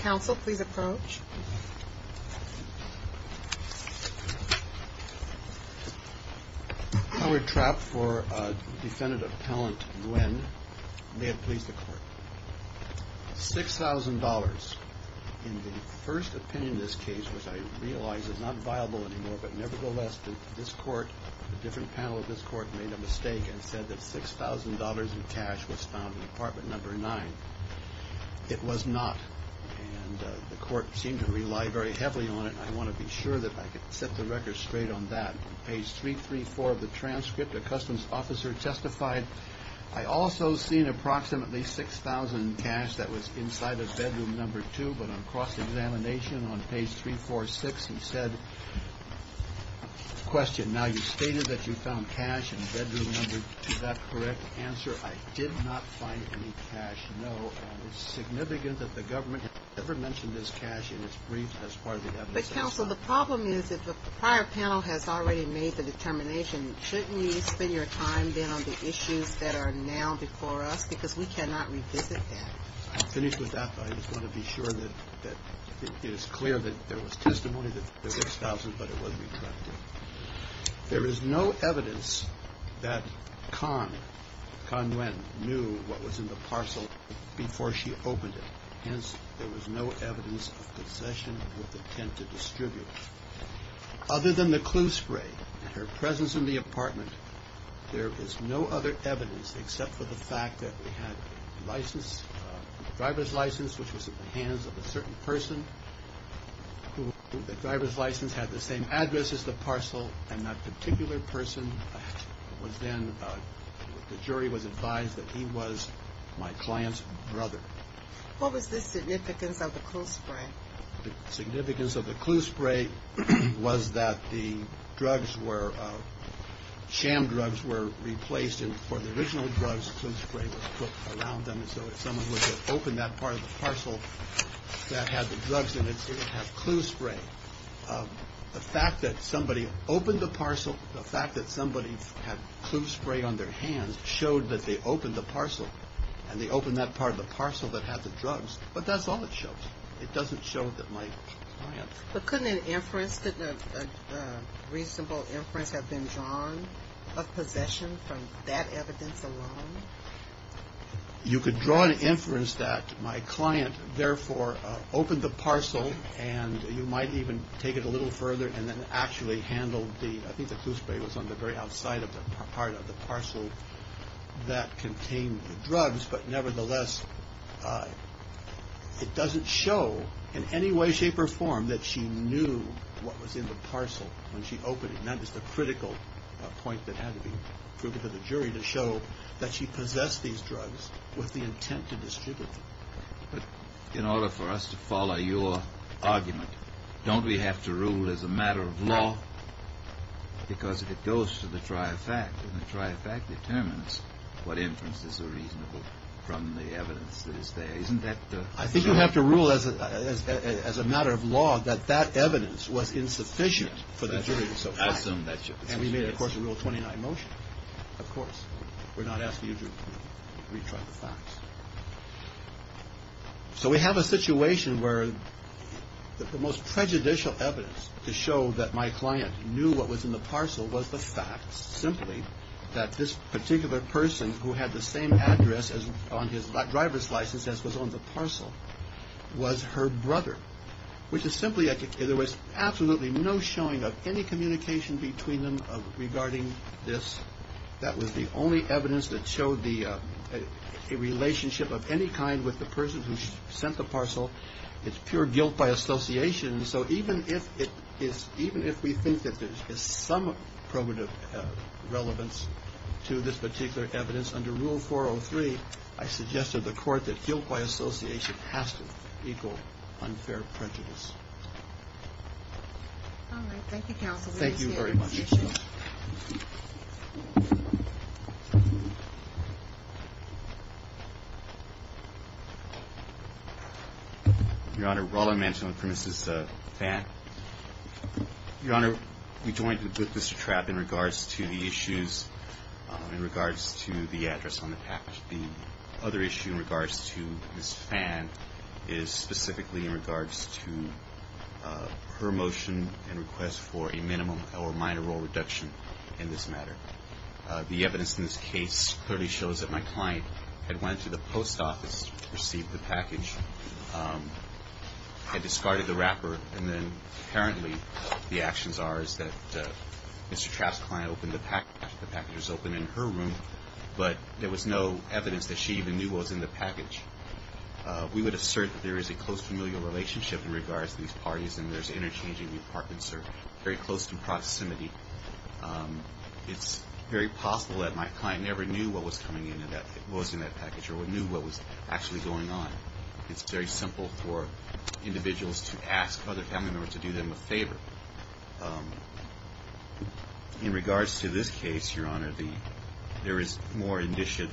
Council, please approach. Howard Trapp for Defendant Appellant Nguyen. May it please the Court. $6,000 in the first opinion of this case, which I realize is not viable anymore, but nevertheless this Court, the different panel of this Court, made a mistake and said that $6,000 in cash was found in Apartment No. 9. It was not, and the Court seemed to rely very heavily on it, and I want to be sure that I can set the record straight on that. On page 334 of the transcript, a Customs officer testified, I also seen approximately $6,000 in cash that was inside of Bedroom No. 2, but on cross-examination on page 346 he said, Question, now you stated that you found cash in Bedroom No. 2. In that correct answer, I did not find any cash, no, and it's significant that the government never mentioned this cash in its brief as part of the evidence. But, Council, the problem is that the prior panel has already made the determination. Shouldn't you spend your time then on the issues that are now before us? Because we cannot revisit that. I'll finish with that. I just want to be sure that it is clear that there was testimony that there was $6,000, but it was retracted. There is no evidence that Khan, Khan Nguyen, knew what was in the parcel before she opened it. Hence, there was no evidence of concession of what they tend to distribute. Other than the clue spray and her presence in the apartment, there is no other evidence except for the fact that we had a license, a driver's license, which was in the hands of a certain person, who the driver's license had the same address as the parcel, and that particular person was then, the jury was advised that he was my client's brother. What was the significance of the clue spray? The significance of the clue spray was that the drugs were, sham drugs were replaced, and for the original drugs, clue spray was put around them. And so if someone was to open that part of the parcel that had the drugs in it, it would have clue spray. The fact that somebody opened the parcel, the fact that somebody had clue spray on their hands showed that they opened the parcel, and they opened that part of the parcel that had the drugs. But that's all it shows. It doesn't show that my client's. But couldn't an inference, couldn't a reasonable inference have been drawn of possession from that evidence alone? You could draw an inference that my client, therefore, opened the parcel, and you might even take it a little further and then actually handle the, I think the clue spray was on the very outside of the part of the parcel that contained the drugs, but nevertheless, it doesn't show in any way, shape, or form, that she knew what was in the parcel when she opened it. And that is the critical point that had to be proven to the jury, to show that she possessed these drugs with the intent to distribute them. But in order for us to follow your argument, don't we have to rule as a matter of law? Because if it goes to the try of fact, and the try of fact determines what inferences are reasonable from the evidence that is there, isn't that true? I think you have to rule as a matter of law that that evidence was insufficient for the jury to so find. And we made, of course, a Rule 29 motion. Of course, we're not asking you to retry the facts. So we have a situation where the most prejudicial evidence to show that my client knew what was in the parcel was the fact simply that this particular person who had the same address on his driver's license as was on the parcel was her brother, which is simply there was absolutely no showing of any communication between them regarding this. That was the only evidence that showed a relationship of any kind with the person who sent the parcel. It's pure guilt by association. So even if we think that there is some probative relevance to this particular evidence, under Rule 403, I suggest to the court that guilt by association has to equal unfair prejudice. All right. Thank you, counsel. Thank you very much. Your Honor, while I'm answering for Mrs. Vann, Your Honor, we joined with Mr. Trapp in regards to the issues in regards to the address on the package. The other issue in regards to Mrs. Vann is specifically in regards to her motion and request for a minimum or minor role reduction in this matter. The evidence in this case clearly shows that my client had went to the post office to receive the package, had discarded the wrapper, and then apparently the actions are is that Mr. Trapp's client opened the package, the package was open in her room, but there was no evidence that she even knew what was in the package. We would assert that there is a close familial relationship in regards to these parties and there's interchanging departments that are very close in proximity. It's very possible that my client never knew what was coming in, was in that package or knew what was actually going on. It's very simple for individuals to ask other family members to do them a favor. In regards to this case, Your Honor, there is more indicia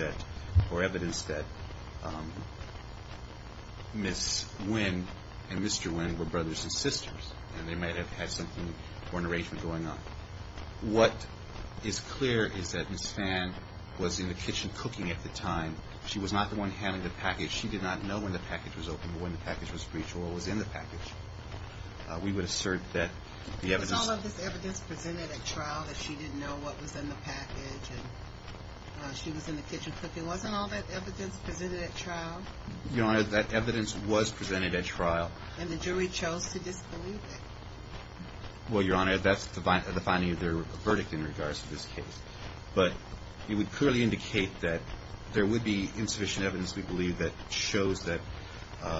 or evidence that Ms. Vann and Mr. Vann were brothers and sisters and they might have had something or an arrangement going on. What is clear is that Ms. Vann was in the kitchen cooking at the time. She was not the one handling the package. She did not know when the package was open or when the package was breached or what was in the package. We would assert that the evidence... It was all of this evidence presented at trial that she didn't know what was in the package and she was in the kitchen cooking. Wasn't all that evidence presented at trial? Your Honor, that evidence was presented at trial. And the jury chose to disbelieve it. Well, Your Honor, that's the finding of their verdict in regards to this case. But it would clearly indicate that there would be insufficient evidence, we believe, that shows that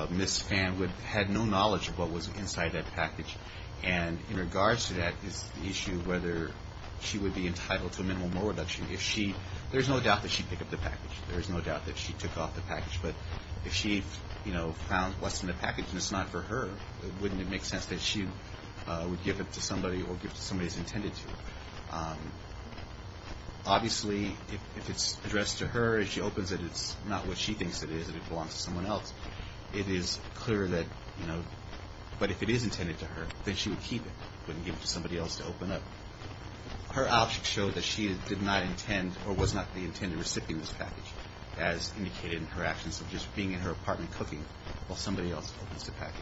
Ms. Vann had no knowledge of what was inside that package. And in regards to that is the issue of whether she would be entitled to a minimal moral reduction. There's no doubt that she picked up the package. There's no doubt that she took off the package. But if she found what's in the package and it's not for her, wouldn't it make sense that she would give it to somebody or give it to somebody who's intended to? Obviously, if it's addressed to her and she opens it, it's not what she thinks it is, that it belongs to someone else. It is clear that, you know, but if it is intended to her, then she would keep it, wouldn't give it to somebody else to open up. Her options show that she did not intend or was not the intended recipient of this package, as indicated in her actions of just being in her apartment cooking while somebody else opens the package.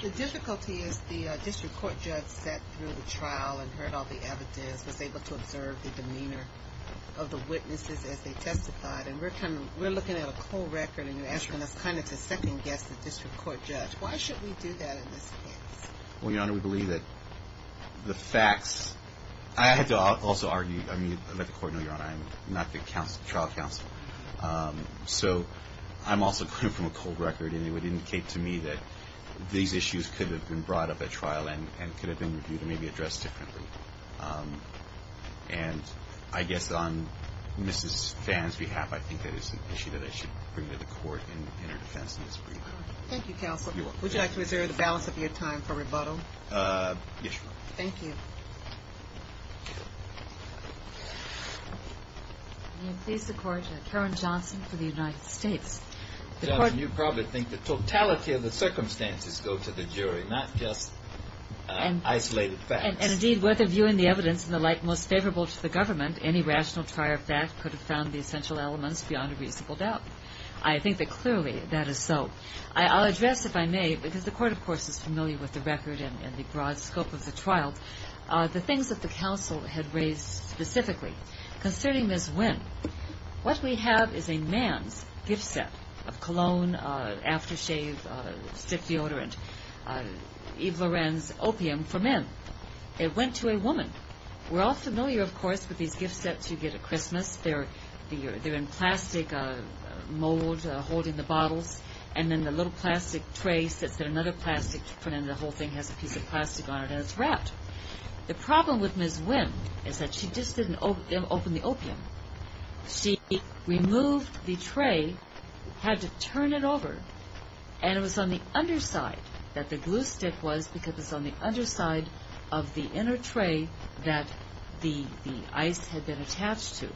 The difficulty is the district court judge sat through the trial and heard all the evidence, was able to observe the demeanor of the witnesses as they testified. And we're looking at a cold record, and you're asking us kind of to second-guess the district court judge. Why should we do that in this case? Well, Your Honor, we believe that the facts – I have to also argue – So I'm also coming from a cold record, and it would indicate to me that these issues could have been brought up at trial and could have been reviewed and maybe addressed differently. And I guess on Mrs. Phan's behalf, I think that is an issue that I should bring to the court in her defense in this brief. Thank you, counsel. Would you like to reserve the balance of your time for rebuttal? Yes, Your Honor. Thank you. May it please the Court. Karen Johnson for the United States. Your Honor, you probably think the totality of the circumstances go to the jury, not just isolated facts. And indeed, with a view in the evidence in the light most favorable to the government, any rational trier of fact could have found the essential elements beyond a reasonable doubt. I think that clearly that is so. I'll address, if I may, because the Court, of course, is familiar with the record and the broad scope of the trial, the things that the counsel had raised specifically. Concerning Ms. Wynn, what we have is a man's gift set of cologne, aftershave, stiff deodorant, Yves Lorenz opium for men. It went to a woman. We're all familiar, of course, with these gift sets you get at Christmas. They're in plastic mold holding the bottles, and then the little plastic tray sits there, and the whole thing has a piece of plastic on it, and it's wrapped. The problem with Ms. Wynn is that she just didn't open the opium. She removed the tray, had to turn it over, and it was on the underside that the glue stick was, because it was on the underside of the inner tray that the ice had been attached to.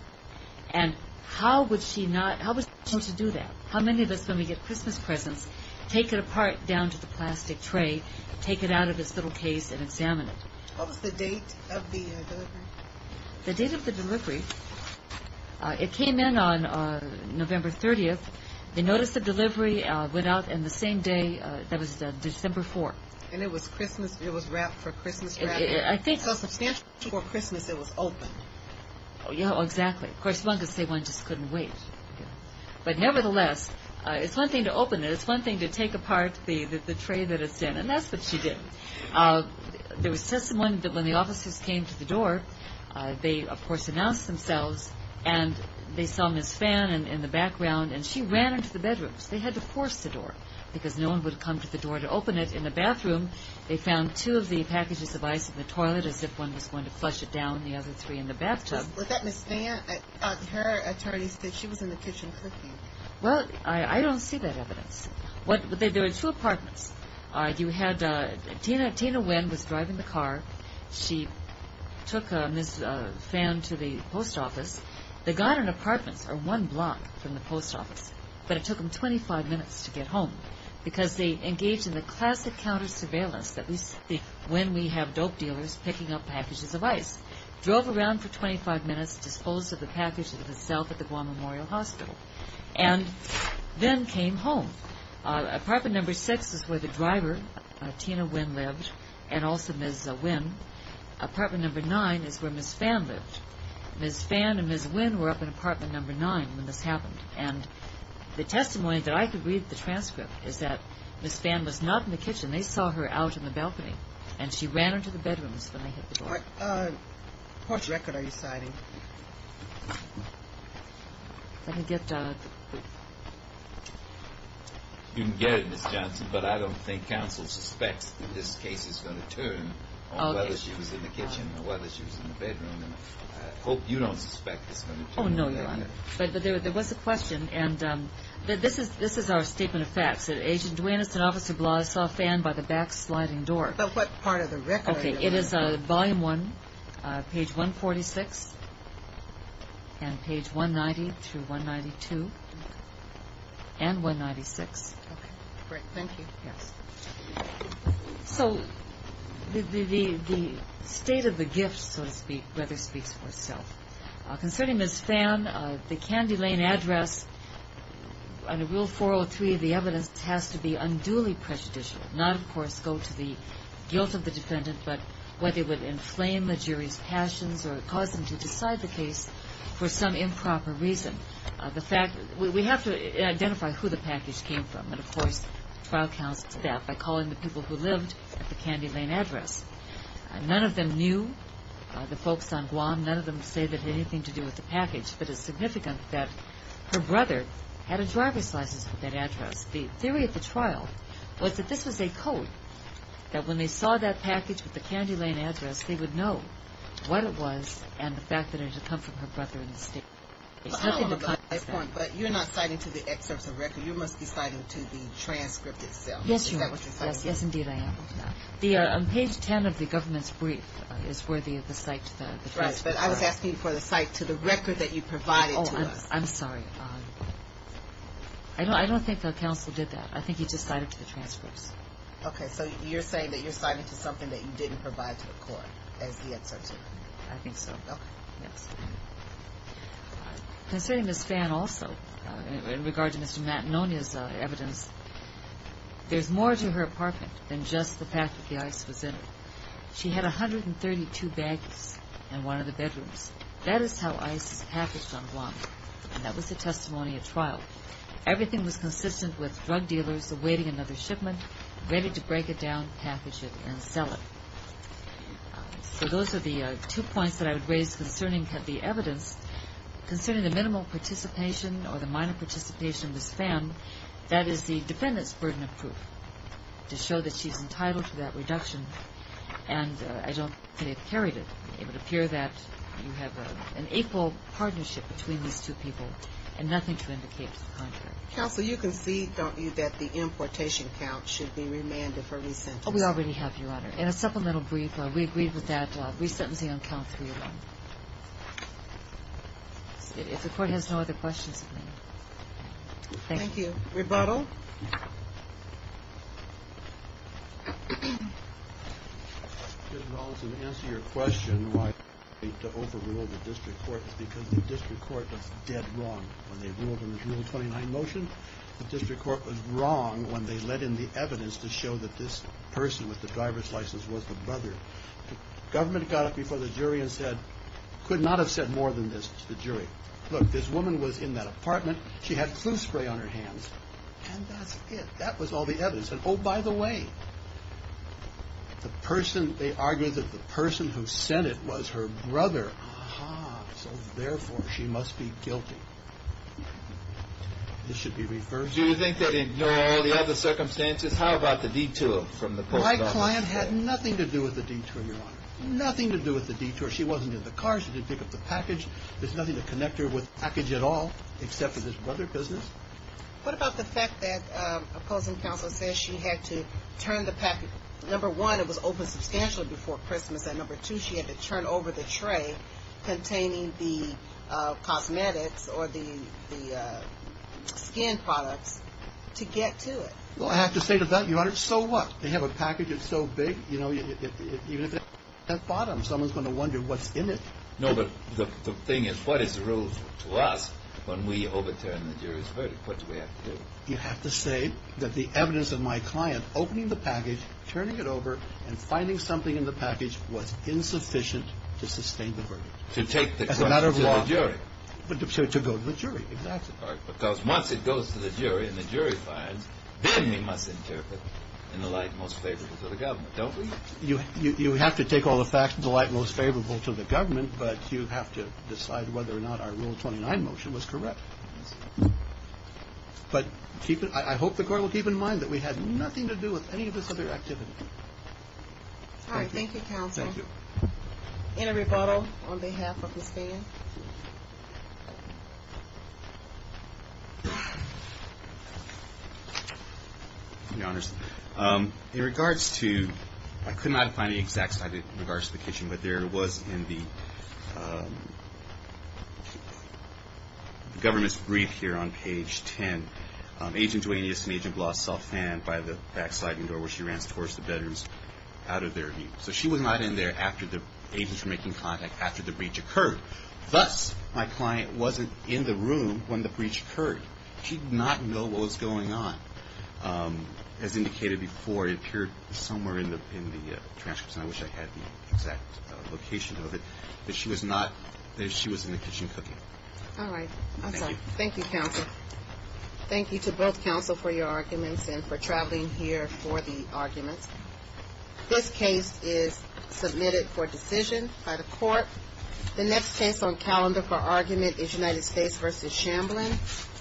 And how would she not want to do that? How many of us, when we get Christmas presents, take it apart down to the plastic tray, take it out of its little case, and examine it? What was the date of the delivery? The date of the delivery, it came in on November 30th. They noticed the delivery, went out, and the same day, that was December 4th. And it was wrapped for Christmas wrapping? I think so. So substantially before Christmas it was open. Exactly. Of course, one could say one just couldn't wait. But nevertheless, it's one thing to open it. It's one thing to take apart the tray that it's in, and that's what she did. There was testimony that when the officers came to the door, they, of course, announced themselves, and they saw Ms. Phan in the background, and she ran into the bedrooms. They had to force the door, because no one would come to the door to open it. In the bathroom, they found two of the packages of ice in the toilet, as if one was going to flush it down, and the other three in the bathtub. Was that Ms. Phan? Her attorney said she was in the kitchen cooking. Well, I don't see that evidence. There were two apartments. Tina Nguyen was driving the car. She took Ms. Phan to the post office. They got an apartment or one block from the post office, but it took them 25 minutes to get home, because they engaged in the classic counter surveillance, at least when we have dope dealers picking up packages of ice. Drove around for 25 minutes, disposed of the package itself at the Guam Memorial Hospital, and then came home. Apartment number six is where the driver, Tina Nguyen, lived, and also Ms. Nguyen. Apartment number nine is where Ms. Phan lived. Ms. Phan and Ms. Nguyen were up in apartment number nine when this happened, and the testimony that I could read in the transcript is that Ms. Phan was not in the kitchen. They saw her out in the balcony, and she ran into the bedrooms when they hit the door. What porch record are you citing? You can get it, Ms. Johnson, but I don't think counsel suspects that this case is going to turn on whether she was in the kitchen or whether she was in the bedroom. I hope you don't suspect it's going to turn. Oh, no, Your Honor. But there was a question, and this is our statement of facts. I saw Phan by the back sliding door. But what part of the record are you referring to? It is volume one, page 146, and page 190 through 192, and 196. Okay. Great. Thank you. Yes. So the state of the gift, so to speak, rather speaks for itself. Concerning Ms. Phan, the Candy Lane address, under Rule 403 of the evidence, has to be unduly prejudicial, not, of course, go to the guilt of the defendant, but whether it would inflame the jury's passions or cause them to decide the case for some improper reason. We have to identify who the package came from, and, of course, trial counsel did that by calling the people who lived at the Candy Lane address. None of them knew the folks on Guam. None of them say it had anything to do with the package. But it's significant that her brother had a driver's license for that address. The theory of the trial was that this was a code, that when they saw that package with the Candy Lane address, they would know what it was and the fact that it had come from her brother in the state. But you're not citing to the excerpt of the record. You must be citing to the transcript itself. Yes, Your Honor. Is that what you're citing? Yes, indeed I am. On page 10 of the government's brief is where the cite to the transcript is. But I was asking for the cite to the record that you provided to us. Oh, I'm sorry. I don't think the counsel did that. I think he just cited to the transcripts. Okay. So you're saying that you're citing to something that you didn't provide to the court as the excerpt. I think so. Okay. Yes. Considering Ms. Phan also, in regard to Mr. Matanonia's evidence, there's more to her apartment than just the fact that the ice was in it. She had 132 baggies in one of the bedrooms. That is how ice is packaged on Guam, and that was the testimony at trial. Everything was consistent with drug dealers awaiting another shipment, ready to break it down, package it, and sell it. So those are the two points that I would raise concerning the evidence. Concerning the minimal participation or the minor participation of Ms. Phan, that is the defendant's burden of proof to show that she's entitled to that reduction, and I don't think it carried it. It would appear that you have an equal partnership between these two people and nothing to indicate to the contrary. Counsel, you concede, don't you, that the importation count should be remanded for re-sentencing? Oh, we already have, Your Honor. In a supplemental brief, we agreed with that re-sentencing on count 3 alone. If the court has no other questions. Thank you. Thank you. Rebuttal? To answer your question why we need to overrule the district court is because the district court was dead wrong. When they ruled in the June 29 motion, the district court was wrong when they let in the evidence to show that this person with the driver's license was the brother. The government got up before the jury and said, could not have said more than this to the jury. Look, this woman was in that apartment. She had flu spray on her hands. And that's it. That was all the evidence. And, oh, by the way, the person they argued that the person who sent it was her brother. Aha. So, therefore, she must be guilty. This should be reversed. Do you think they didn't know all the other circumstances? How about the detour from the post office? My client had nothing to do with the detour, Your Honor. Nothing to do with the detour. She wasn't in the car. She didn't pick up the package. There's nothing to connect her with the package at all except for this brother business. What about the fact that opposing counsel says she had to turn the package? Number one, it was open substantially before Christmas. And, number two, she had to turn over the tray containing the cosmetics or the skin products to get to it. Well, I have to say to that, Your Honor, so what? They have a package that's so big, you know, even if it's at the bottom, someone's going to wonder what's in it. No, but the thing is, what is the rule to us when we overturn the jury's verdict? What do we have to do? You have to say that the evidence of my client opening the package, turning it over, and finding something in the package was insufficient to sustain the verdict. As a matter of law. To take the case to the jury. To go to the jury, exactly. Because once it goes to the jury and the jury finds, then we must interpret in the light most favorable to the government, don't we? You have to take all the facts in the light most favorable to the government, but you have to decide whether or not our Rule 29 motion was correct. But I hope the Court will keep in mind that we had nothing to do with any of this other activity. All right. Thank you, Counsel. Thank you. Any rebuttal on behalf of the stand? Thank you, Your Honors. In regards to, I could not find the exact slide in regards to the kitchen, but there was in the government's brief here on page 10, Agent Duaneus and Agent Bloss saw a fan by the back sliding door where she ran towards the bedrooms out of their view. So she was not in there after the agents were making contact after the breach occurred. Thus, my client wasn't in the room when the breach occurred. She did not know what was going on. As indicated before, it appeared somewhere in the transcripts, and I wish I had the exact location of it, that she was in the kitchen cooking. All right. I'm sorry. Thank you, Counsel. Thank you to both Counsel for your arguments and for traveling here for the arguments. This case is submitted for decision by the court. The next case on calendar for argument is United States v. Shamblin. Thank you.